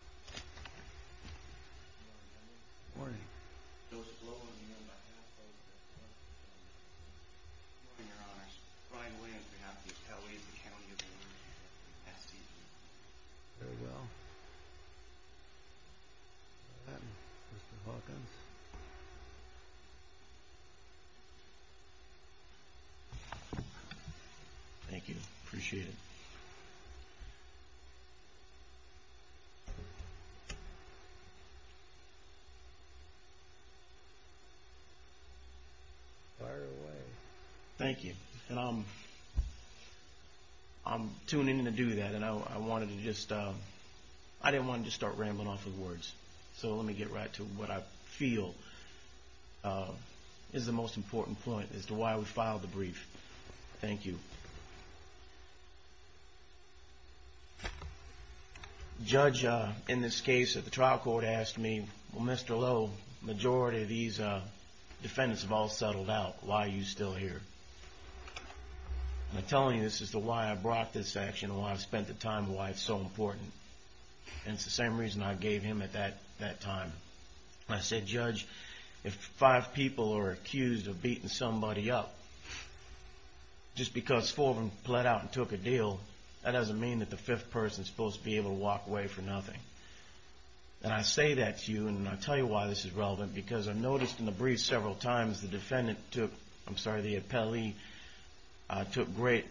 Good morning, your honors. Brian Williams on behalf of the Appellate of the County of Orange, S.C. Very well. Mr. Hawkins. Thank you. Appreciate it. Fire away. Thank you. I'm tuning in to do that and I wanted to just, I didn't want to just start rambling off of words. So let me get right to what I feel is the most important point as to why we filed the brief. Thank you. Judge, in this case, the trial court asked me, Mr. Lowe, the majority of these defendants have all settled out. Why are you still here? I'm telling you this is why I brought this action and why I spent the time and why it's so important. And it's the same reason I gave him at that time. I said, Judge, if five people are accused of beating somebody up just because four of them pled out and took a deal, that doesn't mean that the fifth person is supposed to be able to walk away for nothing. And I say that to you and I tell you why this is relevant because I noticed in the brief several times the defendant took, I'm sorry, the appellee took great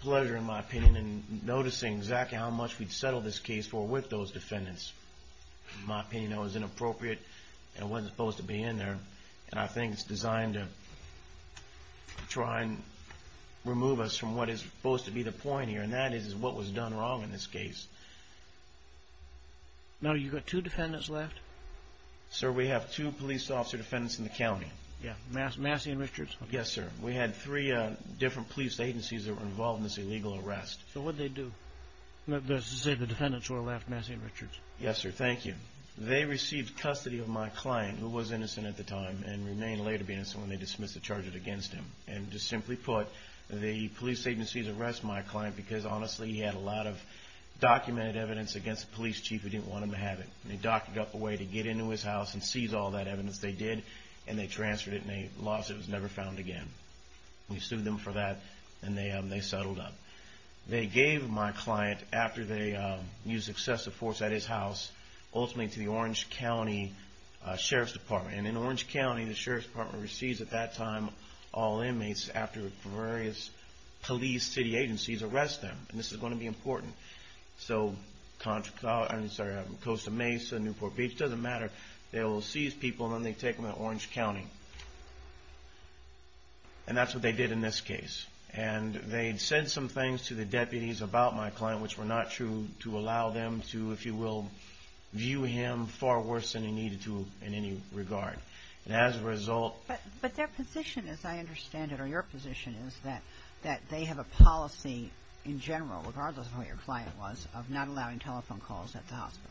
pleasure, in my opinion, in noticing exactly how much we'd settled this case for with those defendants. In my opinion, that was inappropriate and wasn't supposed to be in there. And I think it's designed to try and remove us from what is supposed to be the point here, and that is what was done wrong in this case. Now, you've got two defendants left? Sir, we have two police officer defendants in the county. Yeah, Massey and Richards? Yes, sir. We had three different police agencies that were involved in this illegal arrest. So what'd they do? Let's just say the defendants were left Massey and Richards. Yes, sir. Thank you. They received custody of my client, who was innocent at the time and remained later innocent when they dismissed the charges against him. And to simply put, the police agencies arrested my client because, honestly, he had a lot of documented evidence against the police chief. We didn't want him to have it. They docked up a way to get into his house and seize all that evidence they did, and they transferred it, and they lost it. It was never found again. We sued them for that, and they settled up. They gave my client, after they used excessive force at his house, ultimately to the Orange County Sheriff's Department. And in Orange County, the Sheriff's Department receives, at that time, all inmates after various police city agencies arrest them. And this is going to be important. So Costa Mesa, Newport Beach, it doesn't matter. They will seize people, and then they take them to Orange County. And that's what they did in this case. And they said some things to the deputies about my client, which were not true, to allow them to, if you will, view him far worse than he needed to in any regard. And as a result... But their position, as I understand it, or your position, is that they have a policy in general, regardless of who your client was, of not allowing telephone calls at the hospital.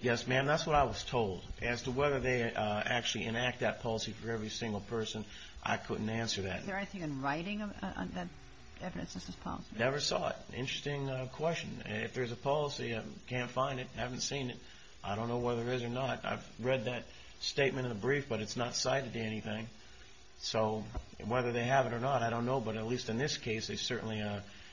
Yes, ma'am. That's what I was told. As to whether they actually enact that policy for every single person, I couldn't answer that. Is there anything in writing that evidences this policy? Never saw it. Interesting question. If there's a policy, I can't find it, haven't seen it. I don't know whether there is or not. I've read that statement in the brief, but it's not cited to anything. So whether they have it or not, I don't know. But at least in this case, they certainly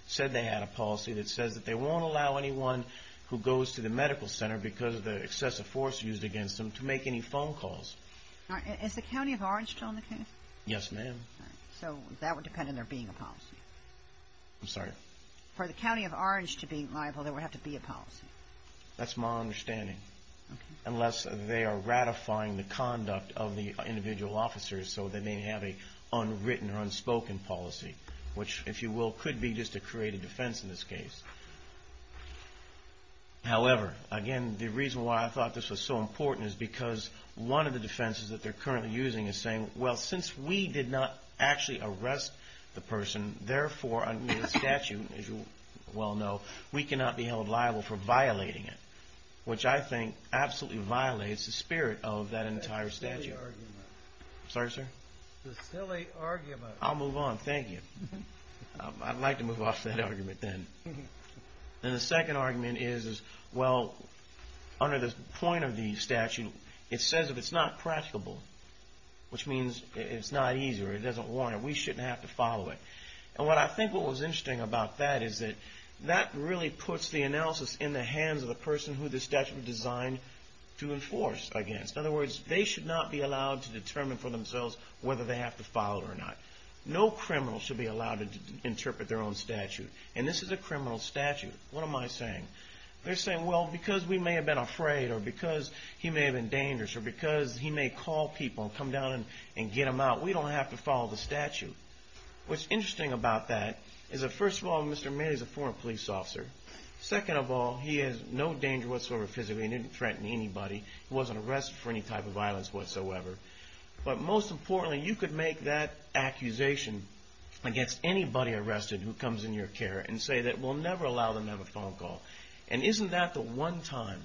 said they had a policy that says that they won't allow anyone who goes to the medical center because of the excessive force used against them to make any phone calls. Is the county of Orange still on the case? Yes, ma'am. So that would depend on there being a policy. I'm sorry? For the county of Orange to be liable, there would have to be a policy. That's my understanding. Unless they are ratifying the conduct of the individual officers so they may have an unwritten or unspoken policy, which, if you will, could be just a creative defense in this case. However, again, the reason why I thought this was so important is because one of the defenses that they're currently using is saying, well, since we did not actually arrest the person, therefore, under the statute, as you well know, we cannot be held liable for violating it, which I think absolutely violates the spirit of that entire statute. That's a silly argument. Sorry, sir? It's a silly argument. I'll move on. Thank you. I'd like to move off that argument then. And the second argument is, well, under the point of the statute, it says if it's not practicable, which means it's not easy or it doesn't warrant it, we shouldn't have to follow it. And what I think what was interesting about that is that that really puts the analysis in the hands of the person who the statute was designed to enforce against. In other words, they should not be allowed to determine for themselves whether they have to follow it or not. No criminal should be allowed to interpret their own statute. And this is a criminal statute. What am I saying? They're saying, well, because we may have been afraid or because he may have been dangerous or because he may call people and come down and get them out, we don't have to follow the statute. What's interesting about that is that, first of all, Mr. Manning is a foreign police officer. Second of all, he is no danger whatsoever physically. He didn't threaten anybody. He wasn't arrested for any type of violence whatsoever. But most importantly, you could make that accusation against anybody arrested who comes in your care and say that we'll never allow them to have a phone call. And isn't that the one time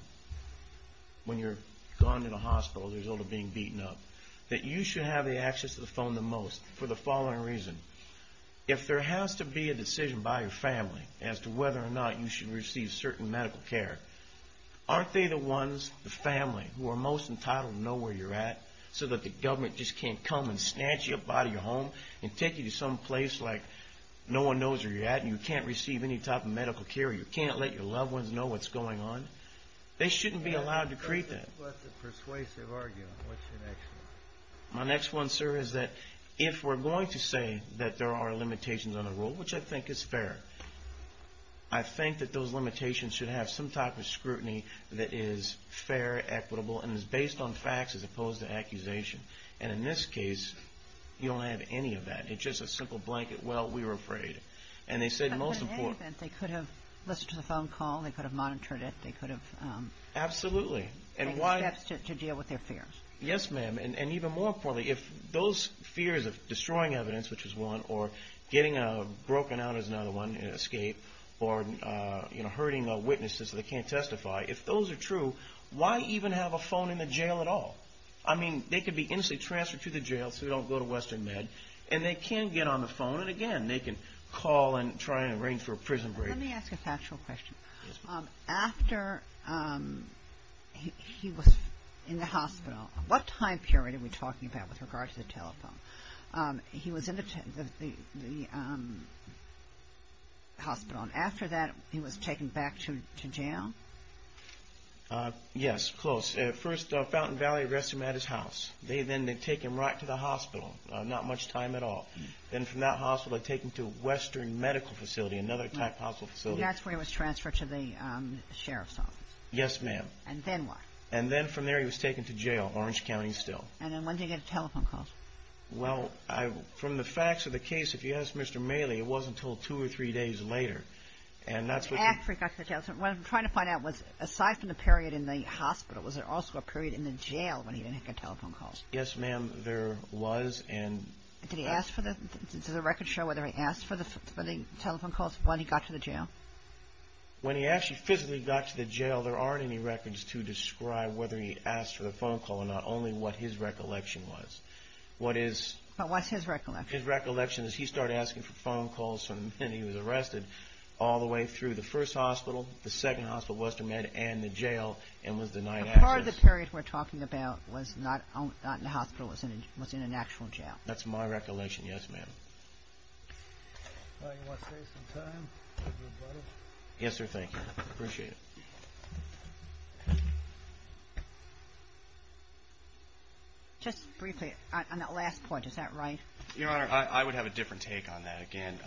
when you're gone to the hospital as a result of being beaten up that you should have the access to the phone the most for the following reason? If there has to be a decision by your family as to whether or not you should receive certain medical care, aren't they the ones, the family, who are most entitled to know where you're at so that the government just can't come and snatch you up out of your home and take you to some place like no one knows where you're at and you can't receive any type of medical care or you can't let your loved ones know what's going on? They shouldn't be allowed to create that. What's the persuasive argument? What's your next one? My next one, sir, is that if we're going to say that there are limitations on the rule, which I think is fair, I think that those limitations should have some type of scrutiny that is fair, equitable, and is based on facts as opposed to accusation. And in this case, you don't have any of that. It's just a simple blanket, well, we were afraid. But in any event, they could have listened to the phone call, they could have monitored it, they could have taken steps to deal with their fears. Yes, ma'am. And even more importantly, if those fears of destroying evidence, which is one, or getting broken out is another one, an escape, or hurting witnesses that they can't testify, if those are true, why even have a phone in the jail at all? I mean, they could be instantly transferred to the jail so they don't go to Western Med, and they can get on the phone, and again, they can call and try and arrange for a prison break. Let me ask a factual question. Yes, ma'am. He was in the hospital. What time period are we talking about with regard to the telephone? He was in the hospital, and after that, he was taken back to jail? Yes, close. First, Fountain Valley arrested him at his house. Then they take him right to the hospital, not much time at all. Then from that hospital, they take him to Western Medical Facility, another type hospital facility. And that's where he was transferred to the sheriff's office? Yes, ma'am. And then what? And then from there, he was taken to jail, Orange County still. And then when did he get telephone calls? Well, from the facts of the case, if you ask Mr. Maley, it wasn't until two or three days later. And after he got to the jail, what I'm trying to find out was, aside from the period in the hospital, was there also a period in the jail when he didn't get telephone calls? Yes, ma'am, there was. Did the records show whether he asked for the telephone calls when he got to the jail? When he actually physically got to the jail, there aren't any records to describe whether he asked for the phone call and not only what his recollection was. But what's his recollection? His recollection is he started asking for phone calls from the minute he was arrested all the way through the first hospital, the second hospital, Western Med, and the jail, and was denied access. So part of the period we're talking about was not in the hospital, was in an actual jail? That's my recollection, yes, ma'am. You want to save some time for your brother? Yes, sir, thank you. I appreciate it. Just briefly, on that last point, is that right? Your Honor, I would have a different take on that again.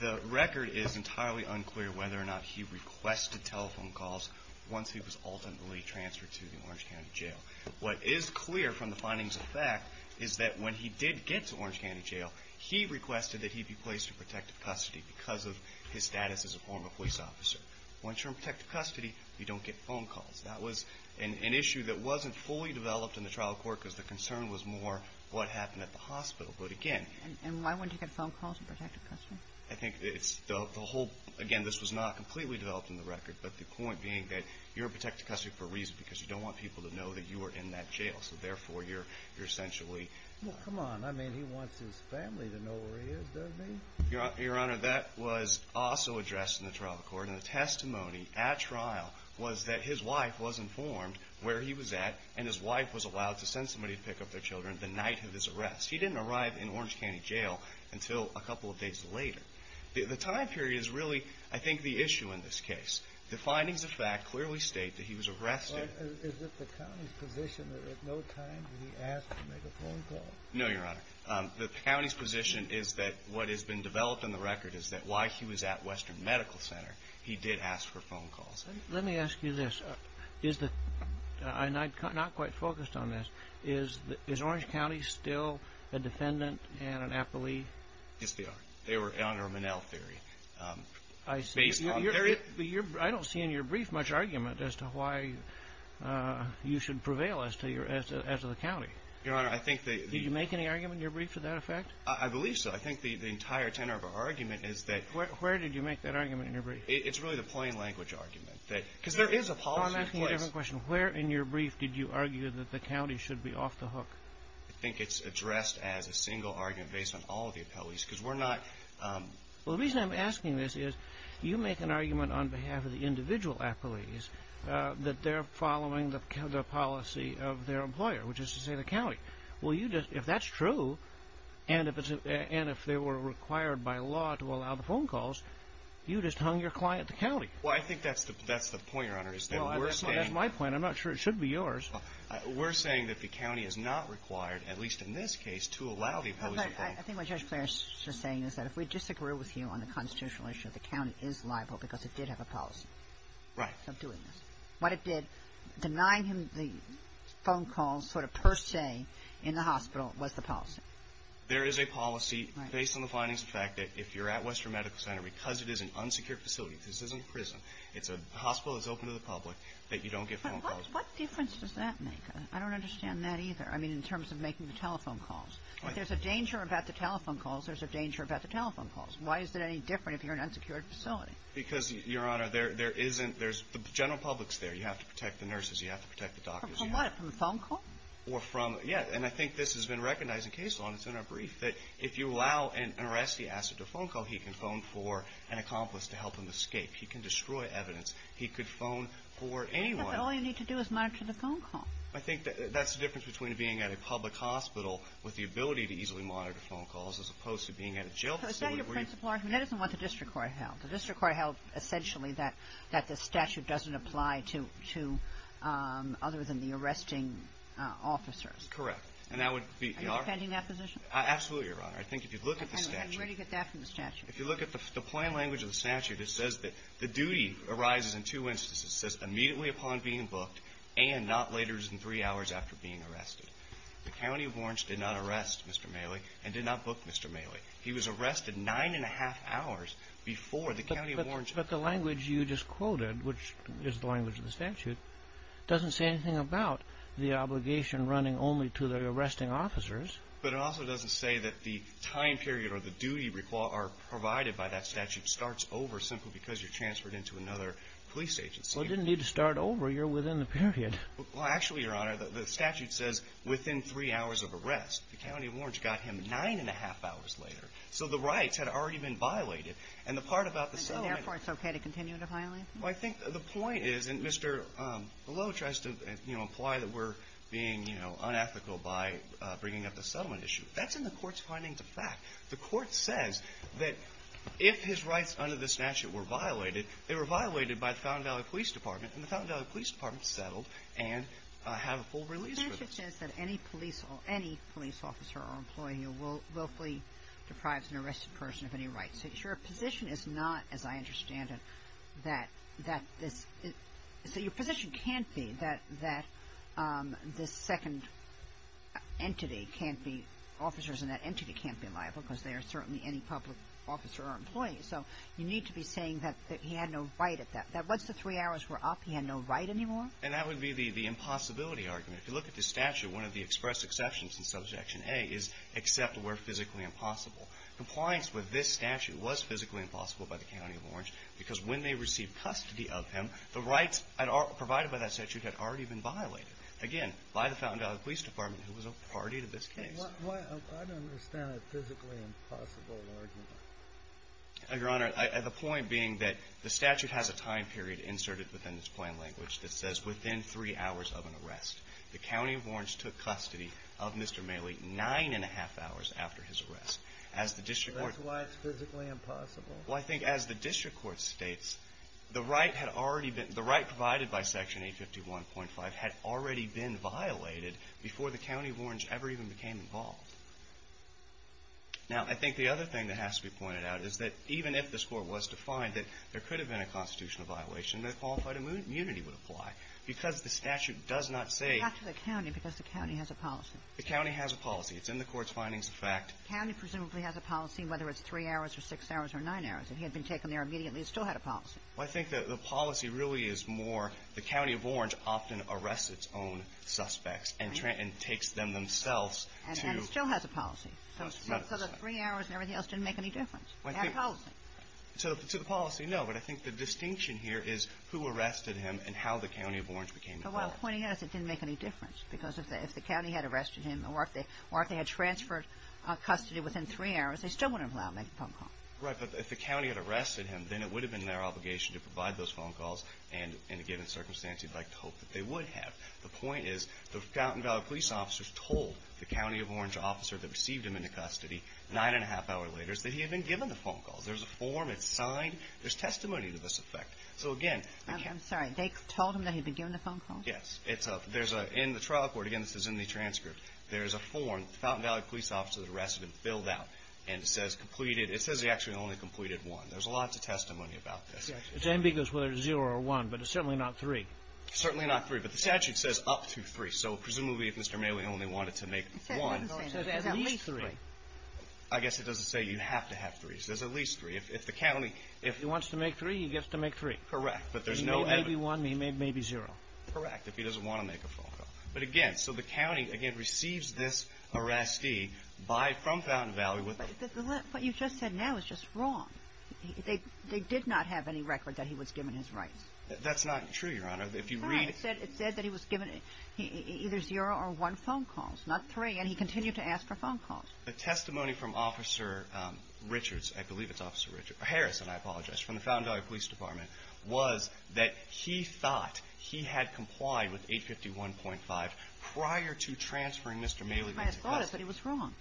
The record is entirely unclear whether or not he requested telephone calls once he was ultimately transferred to the Orange County Jail. What is clear from the findings of fact is that when he did get to Orange County Jail, he requested that he be placed in protective custody because of his status as a former police officer. Once you're in protective custody, you don't get phone calls. That was an issue that wasn't fully developed in the trial court because the concern was more what happened at the hospital. And why wouldn't he get phone calls in protective custody? Again, this was not completely developed in the record, but the point being that you're in protective custody for a reason, because you don't want people to know that you were in that jail, so therefore you're essentially... Well, come on. I mean, he wants his family to know where he is, doesn't he? Your Honor, that was also addressed in the trial court, and the testimony at trial was that his wife was informed where he was at, and his wife was allowed to send somebody to pick up their children the night of his arrest. He didn't arrive in Orange County Jail until a couple of days later. The time period is really, I think, the issue in this case. The findings of fact clearly state that he was arrested. Is it the county's position that at no time did he ask to make a phone call? No, Your Honor. The county's position is that what has been developed in the record is that while he was at Western Medical Center, he did ask for phone calls. Let me ask you this. I'm not quite focused on this. Is Orange County still a defendant and an appellee? Yes, they are. They were under Monell theory. I don't see in your brief much argument as to why you should prevail as to the county. Your Honor, I think that... Did you make any argument in your brief to that effect? I believe so. I think the entire tenor of our argument is that... Where did you make that argument in your brief? It's really the plain language argument. Because there is a policy in place. Where in your brief did you argue that the county should be off the hook? I think it's addressed as a single argument based on all of the appellees because we're not... The reason I'm asking this is you make an argument on behalf of the individual appellees that they're following the policy of their employer, which is to say the county. If that's true and if they were required by law to allow the phone calls, you just hung your client at the county. Well, I think that's the point, Your Honor, is that we're saying... Well, that's my point. I'm not sure it should be yours. We're saying that the county is not required, at least in this case, to allow the appellees to phone. I think what Judge Flanagan is saying is that if we disagree with you on the constitutional issue, the county is liable because it did have a policy of doing this. What it did, denying him the phone calls sort of per se in the hospital was the policy. There is a policy based on the findings of fact that if you're at Western Medical Center, because it is an unsecured facility, because this isn't a prison, it's a hospital that's open to the public, that you don't get phone calls. But what difference does that make? I don't understand that either. I mean, in terms of making the telephone calls. If there's a danger about the telephone calls, there's a danger about the telephone calls. Why is it any different if you're in an unsecured facility? Because, Your Honor, there isn't... The general public's there. You have to protect the nurses. You have to protect the doctors. From what? From a phone call? Yeah, and I think this has been recognized in case law, and it's in our brief, that if you allow an arrestee to ask for a phone call, he can phone for an accomplice to help him escape. He can destroy evidence. He could phone for anyone. I think that all you need to do is monitor the phone call. I think that's the difference between being at a public hospital with the ability to easily monitor phone calls as opposed to being at a jail facility where you... So is that your principal argument? That isn't what the district court held. The district court held essentially that the statute doesn't apply to other than the arresting officers. Correct. And that would be... Are you defending that position? Absolutely, Your Honor. I think if you look at the statute... And where do you get that from the statute? If you look at the plain language of the statute, it says that the duty arises in two instances. It says immediately upon being booked and not later than three hours after being arrested. The County of Orange did not arrest Mr. Mailey and did not book Mr. Mailey. He was arrested nine and a half hours before the County of Orange... But the language you just quoted, which is the language of the statute, doesn't say anything about the obligation running only to the arresting officers. But it also doesn't say that the time period or the duty provided by that statute starts over simply because you're transferred into another police agency. Well, it didn't need to start over. You're within the period. Well, actually, Your Honor, the statute says within three hours of arrest. The County of Orange got him nine and a half hours later. So the rights had already been violated. And the part about the settlement... And so therefore it's okay to continue to violate them? Well, I think the point is, and Mr. Below tries to, you know, imply that we're being, you know, unethical by bringing up the settlement issue. That's in the court's findings of fact. The court says that if his rights under the statute were violated, they were violated by the Fountain Valley Police Department, and the Fountain Valley Police Department settled and have a full release for this. The statute says that any police officer or employee willfully deprives an arrested person of any rights. So your position is not, as I understand it, that this... So your position can't be that this second entity can't be officers and that entity can't be liable because they are certainly any public officer or employee. So you need to be saying that he had no right at that. Once the three hours were up, he had no right anymore? And that would be the impossibility argument. If you look at the statute, one of the express exceptions in Subjection A is except where physically impossible. Compliance with this statute was physically impossible by the County of Orange because when they received custody of him, the rights provided by that statute had already been violated. Again, by the Fountain Valley Police Department, who was a priority to this case. I don't understand a physically impossible argument. Your Honor, the point being that the statute has a time period inserted within its plan language that says within three hours of an arrest. The County of Orange took custody of Mr. Maley nine and a half hours after his arrest. That's why it's physically impossible? Well, I think as the district court states, the right had already been, the right provided by Section 851.5 had already been violated before the County of Orange ever even became involved. Now, I think the other thing that has to be pointed out is that even if this Court was to find that there could have been a constitutional violation, the qualified immunity would apply because the statute does not say. Not to the County because the County has a policy. The County has a policy. It's in the Court's findings of fact. The County presumably has a policy whether it's three hours or six hours or nine hours. If he had been taken there immediately, it still had a policy. Well, I think the policy really is more the County of Orange often arrests its own suspects and takes them themselves to... And still has a policy. So the three hours and everything else didn't make any difference. They have a policy. To the policy, no, but I think the distinction here is who arrested him and how the County of Orange became involved. Well, the point is it didn't make any difference because if the County had arrested him or if they had transferred custody within three hours, they still wouldn't have allowed him to make a phone call. Right, but if the County had arrested him, then it would have been their obligation to provide those phone calls and in a given circumstance you'd like to hope that they would have. The point is the Fountain Valley police officers told the County of Orange officer that received him into custody nine and a half hour later that he had been given the phone calls. There's a form. It's signed. There's testimony to this effect. So again... I'm sorry. They told him that he'd been given the phone call? Yes. In the trial court, again this is in the transcript, there's a form that the Fountain Valley police officer that arrested him filled out and it says he actually only completed one. There's a lot of testimony about this. It's ambiguous whether it's zero or one, but it's certainly not three. It's certainly not three, but the statute says up to three, so presumably if Mr. Maley only wanted to make one, it says at least three. I guess it doesn't say you have to have three. It says at least three. If he wants to make three, he gets to make three. Correct, but there's no... He made maybe one and he made maybe zero. Correct, if he doesn't want to make a phone call. But again, so the county, again, receives this arrestee from Fountain Valley. What you just said now is just wrong. They did not have any record that he was given his rights. That's not true, Your Honor. If you read... It said that he was given either zero or one phone call, not three, and he continued to ask for phone calls. The testimony from Officer Richards, I believe it's Officer Harris, and I apologize, from the Fountain Valley Police Department, was that he thought he had complied with 851.5 prior to transferring Mr. Maley into custody. He might have thought it, but he was wrong.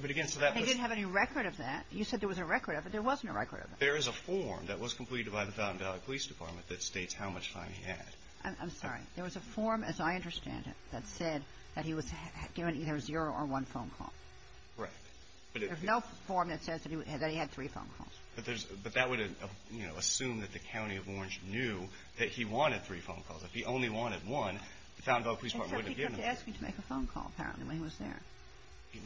But again, so that was... He didn't have any record of that. You said there was a record of it. There wasn't a record of it. There is a form that was completed by the Fountain Valley Police Department that states how much time he had. I'm sorry. There was a form, as I understand it, that said that he was given either zero or one phone call. There's no form that says that he had three phone calls. But that would assume that the County of Orange knew that he wanted three phone calls. If he only wanted one, the Fountain Valley Police Department wouldn't have given him that. And so he kept asking to make a phone call, apparently, when he was there.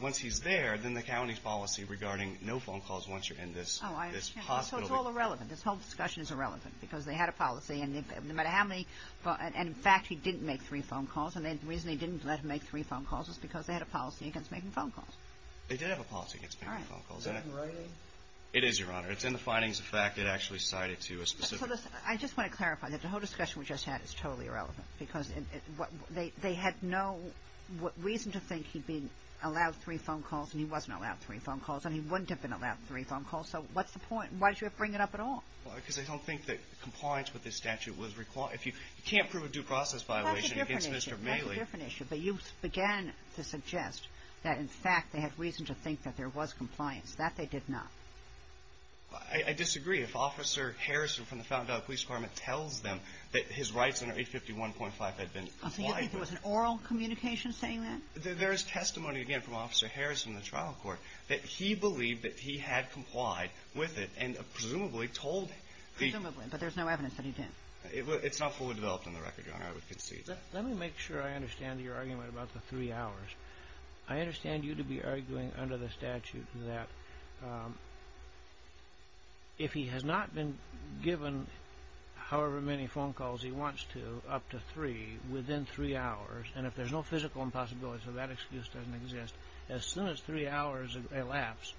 Once he's there, then the County's policy regarding no phone calls once you're in this hospital... Oh, I understand. So it's all irrelevant. This whole discussion is irrelevant, because they had a policy, and no matter how many... And in fact, he didn't make three phone calls, and the reason he didn't let him make three phone calls was because they had a policy against making phone calls. They did have a policy against making phone calls. All right. It is, Your Honor. It's in the findings of fact. It actually cited to a specific... I just want to clarify that the whole discussion we just had is totally irrelevant, because they had no reason to think he'd be allowed three phone calls, and he wasn't allowed three phone calls, and he wouldn't have been allowed three phone calls. So what's the point? Why did you bring it up at all? Because they don't think that compliance with this statute was required. If you can't prove a due process violation against Mr. Maley... That's a different issue. That's a different issue. But you began to suggest that, in fact, they had reason to think that there was compliance. That they did not. I disagree. If Officer Harrison from the Fountain Valley Police Department tells them that his rights under 851.5 had been complied with... So you think there was an oral communication saying that? There is testimony, again, from Officer Harrison in the trial court that he believed that he had complied with it and presumably told the... Presumably, but there's no evidence that he didn't. It's not fully developed in the record, Your Honor. I would concede that. Let me make sure I understand your argument about the three hours. I understand you to be arguing under the statute that if he has not been given however many phone calls he wants to, up to three, within three hours, and if there's no physical impossibility, so that excuse doesn't exist, as soon as three hours elapse,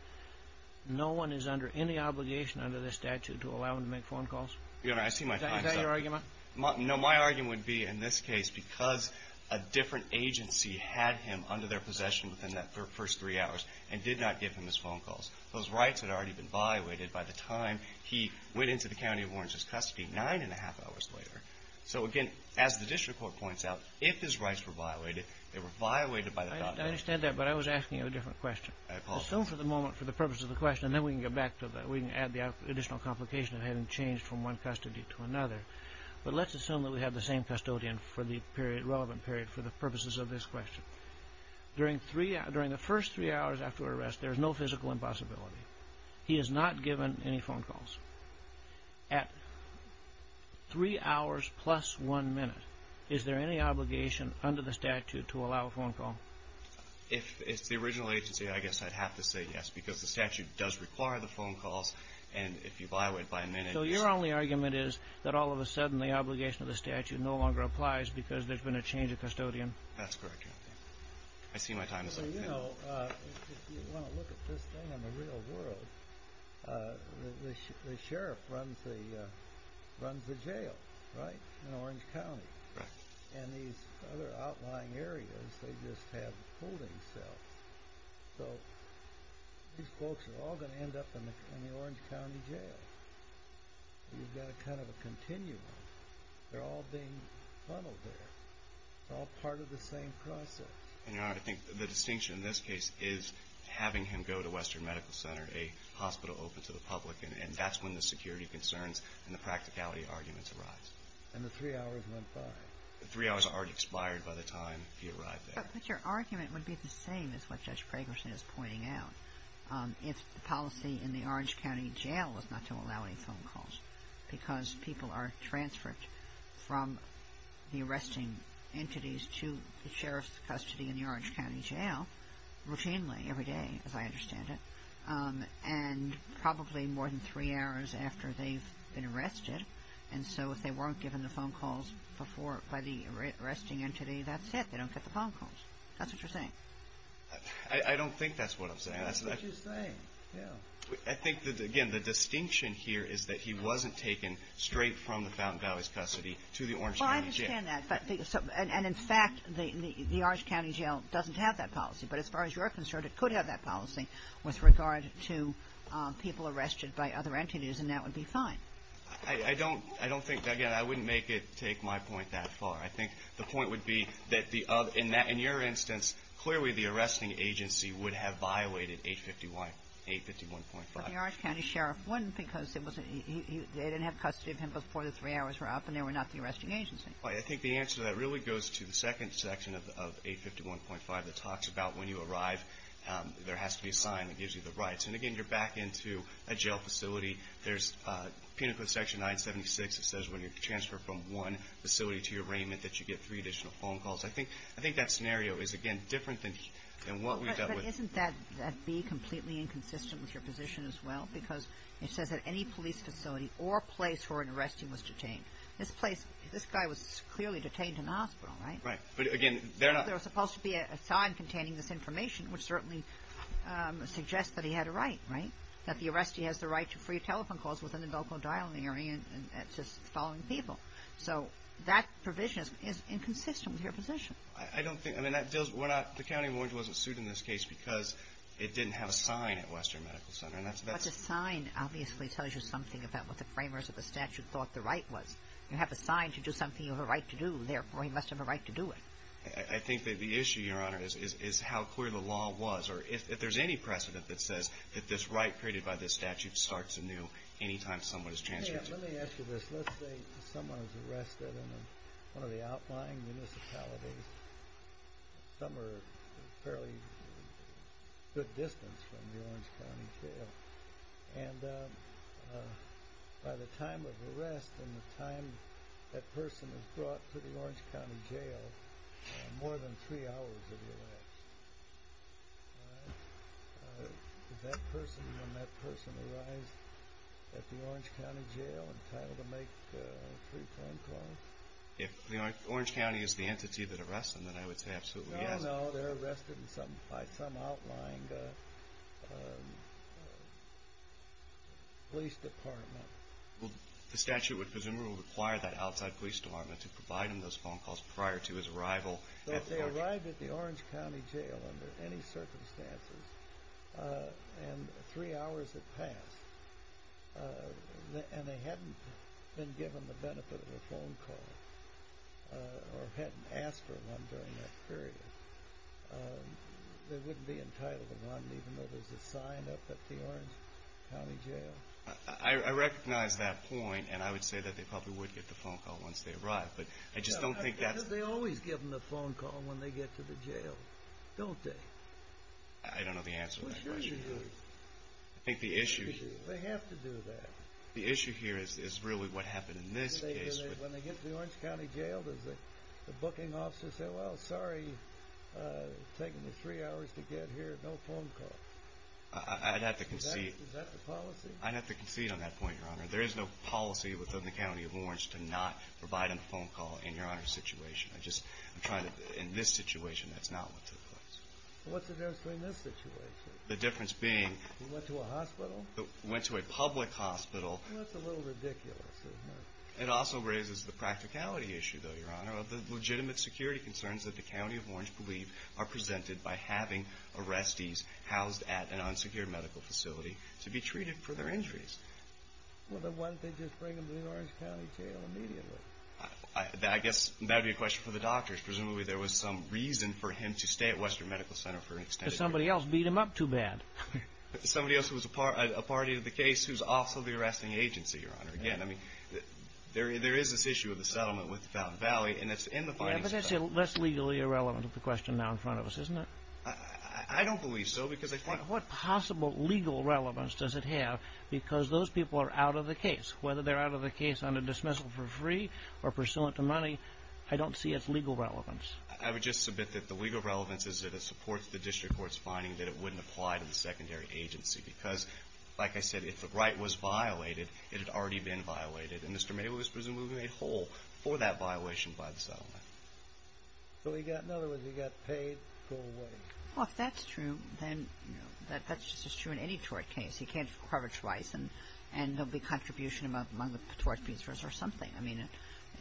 no one is under any obligation under this statute to allow him to make phone calls? Your Honor, I see my time's up. Is that your argument? No, my argument would be, in this case, because a different agency had him under their possession within that first three hours and did not give him his phone calls. Those rights had already been violated by the time he went into the County of Warrens' custody, nine and a half hours later. So, again, as the district court points out, if his rights were violated, they were violated by the... I understand that, but I was asking you a different question. I apologize. Assume for the moment, for the purpose of the question, and then we can get back to that. We can add the additional complication of having changed from one custody to another. But let's assume that we have the same custodian for the relevant period, for the purposes of this question. During the first three hours after arrest, there is no physical impossibility. He is not given any phone calls. At three hours plus one minute, is there any obligation under the statute to allow a phone call? If it's the original agency, I guess I'd have to say yes, because the statute does require the phone calls, and if you violate it by a minute... So your only argument is that all of a sudden the obligation of the statute no longer applies because there's been a change of custodian? That's correct, Your Honor. I see my time is up. Well, you know, if you want to look at this thing in the real world, the sheriff runs the jail, right, in Orange County. Correct. And these other outlying areas, they just have holding cells. So these folks are all going to end up in the Orange County jail. You've got kind of a continuum. They're all being funneled there. It's all part of the same process. And, Your Honor, I think the distinction in this case is having him go to Western Medical Center, a hospital open to the public, and that's when the security concerns and the practicality arguments arise. And the three hours went by. The three hours already expired by the time he arrived there. But your argument would be the same as what Judge Pragerson is pointing out. If the policy in the Orange County jail was not to allow any phone calls because people are transferred from the arresting entities to the sheriff's custody in the Orange County jail routinely every day, as I understand it, and probably more than three hours after they've been arrested. And so if they weren't given the phone calls before by the arresting entity, that's it. They don't get the phone calls. That's what you're saying. I don't think that's what I'm saying. That's what you're saying. Yeah. I think, again, the distinction here is that he wasn't taken straight from the Fountain Valley's custody to the Orange County jail. Well, I understand that. And, in fact, the Orange County jail doesn't have that policy. But as far as you're concerned, it could have that policy with regard to people arrested by other entities, and that would be fine. I don't think, again, I wouldn't make it take my point that far. I think the point would be that in your instance, clearly the arresting agency would have violated 851.5. But the Orange County sheriff wouldn't because they didn't have custody of him before the three hours were up and they were not the arresting agency. Right. I think the answer to that really goes to the second section of 851.5 that talks about when you arrive, there has to be a sign that gives you the rights. And, again, you're back into a jail facility. There's penal code section 976 that says when you're transferred from one facility to your arraignment that you get three additional phone calls. I think that scenario is, again, different than what we've dealt with. But isn't that B completely inconsistent with your position as well? Because it says that any police facility or place where an arrestee was detained. This place, this guy was clearly detained in a hospital, right? Right. But, again, they're not. There was supposed to be a sign containing this information, which certainly suggests that he had a right, right, that the arrestee has the right to free telephone calls within the local dialing area and to follow people. So that provision is inconsistent with your position. I don't think. I mean, that deals. The county warrant wasn't sued in this case because it didn't have a sign at Western Medical Center. But the sign obviously tells you something about what the framers of the statute thought the right was. You have a sign to do something you have a right to do. Therefore, he must have a right to do it. I think that the issue, Your Honor, is how clear the law was. Or if there's any precedent that says that this right created by this statute starts anew any time someone is transferred. Let me ask you this. Let's say someone is arrested in one of the outlying municipalities. Some are fairly good distance from the Orange County Jail. And by the time of arrest and the time that person is brought to the Orange County Jail, more than three hours have elapsed. Does that person, when that person arrives at the Orange County Jail, entitled to make a free telephone call? If Orange County is the entity that arrests them, then I would say absolutely, yes. No, they're arrested by some outlying police department. The statute would presumably require that outside police department to provide them those phone calls prior to his arrival. If they arrived at the Orange County Jail under any circumstances and three hours had passed, and they hadn't been given the benefit of a phone call or hadn't asked for one during that period, they wouldn't be entitled to one even though there's a sign up at the Orange County Jail. I recognize that point, and I would say that they probably would get the phone call once they arrived. They always give them the phone call when they get to the jail, don't they? I don't know the answer to that question. They have to do that. The issue here is really what happened in this case. When they get to the Orange County Jail, does the booking officer say, well, sorry, it's taken me three hours to get here, no phone call? I'd have to concede. Is that the policy? I'd have to concede on that point, Your Honor. There is no policy within the County of Orange to not provide them a phone call in Your Honor's situation. In this situation, that's not what took place. What's the difference between this situation? The difference being we went to a public hospital. That's a little ridiculous. It also raises the practicality issue, though, Your Honor, of the legitimate security concerns that the County of Orange believe are presented by having arrestees housed at an unsecured medical facility to be treated for their injuries. Well, then why didn't they just bring them to the Orange County Jail immediately? I guess that would be a question for the doctors. Presumably there was some reason for him to stay at Western Medical Center for an extended period. Somebody else beat him up too bad. Somebody else who was a party to the case who's also the arresting agency, Your Honor. Again, there is this issue of the settlement with Fountain Valley, and it's in the findings. But that's less legally irrelevant of the question now in front of us, isn't it? I don't believe so because I find— What possible legal relevance does it have? Because those people are out of the case. Whether they're out of the case on a dismissal for free or pursuant to money, I don't see its legal relevance. I would just submit that the legal relevance is that it supports the district court's finding that it wouldn't apply to the secondary agency because, like I said, if the right was violated, it had already been violated, and Mr. Mable was presumably made whole for that violation by the settlement. So he got—in other words, he got paid full wage. Well, if that's true, then, you know, that's just as true in any tort case. He can't cover twice, and there'll be contribution among the tort pieces or something. I mean,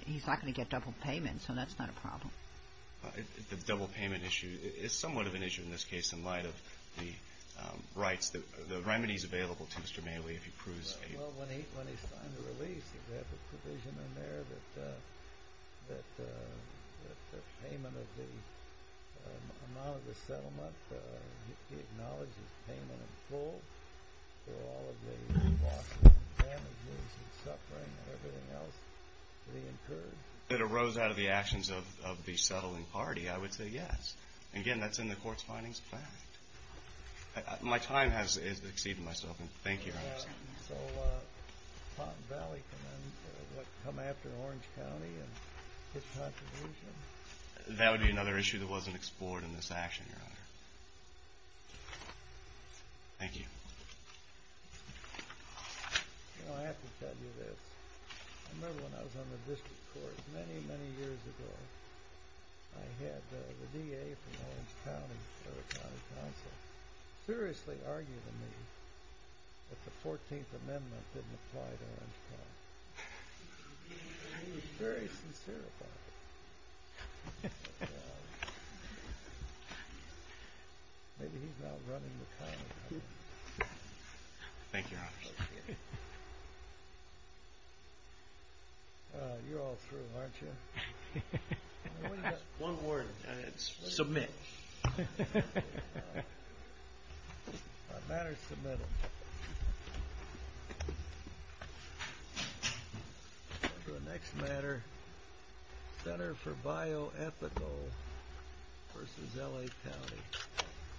he's not going to get double payment, so that's not a problem. The double payment issue is somewhat of an issue in this case in light of the rights, the remedies available to Mr. Mable if he proves— Well, when he signed the release, they have a provision in there that the payment of the amount of the settlement, he acknowledges payment in full for all of the losses and damages and suffering and everything else that he incurred. If it arose out of the actions of the settling party, I would say yes. Again, that's in the court's findings of fact. My time has exceeded myself, and thank you. So Palm Valley can then come after Orange County and get contribution? That would be another issue that wasn't explored in this action, Your Honor. Thank you. You know, I have to tell you this. I remember when I was on the district court many, many years ago, I had the DA from Orange County, the Orange County Council, seriously arguing with me that the 14th Amendment didn't apply to Orange County. And he was very sincere about it. Maybe he's now running the county. Thank you, Your Honor. Thank you. You're all through, aren't you? One word, and it's submit. The matter is submitted. The next matter, Center for Bioethical versus L.A. County.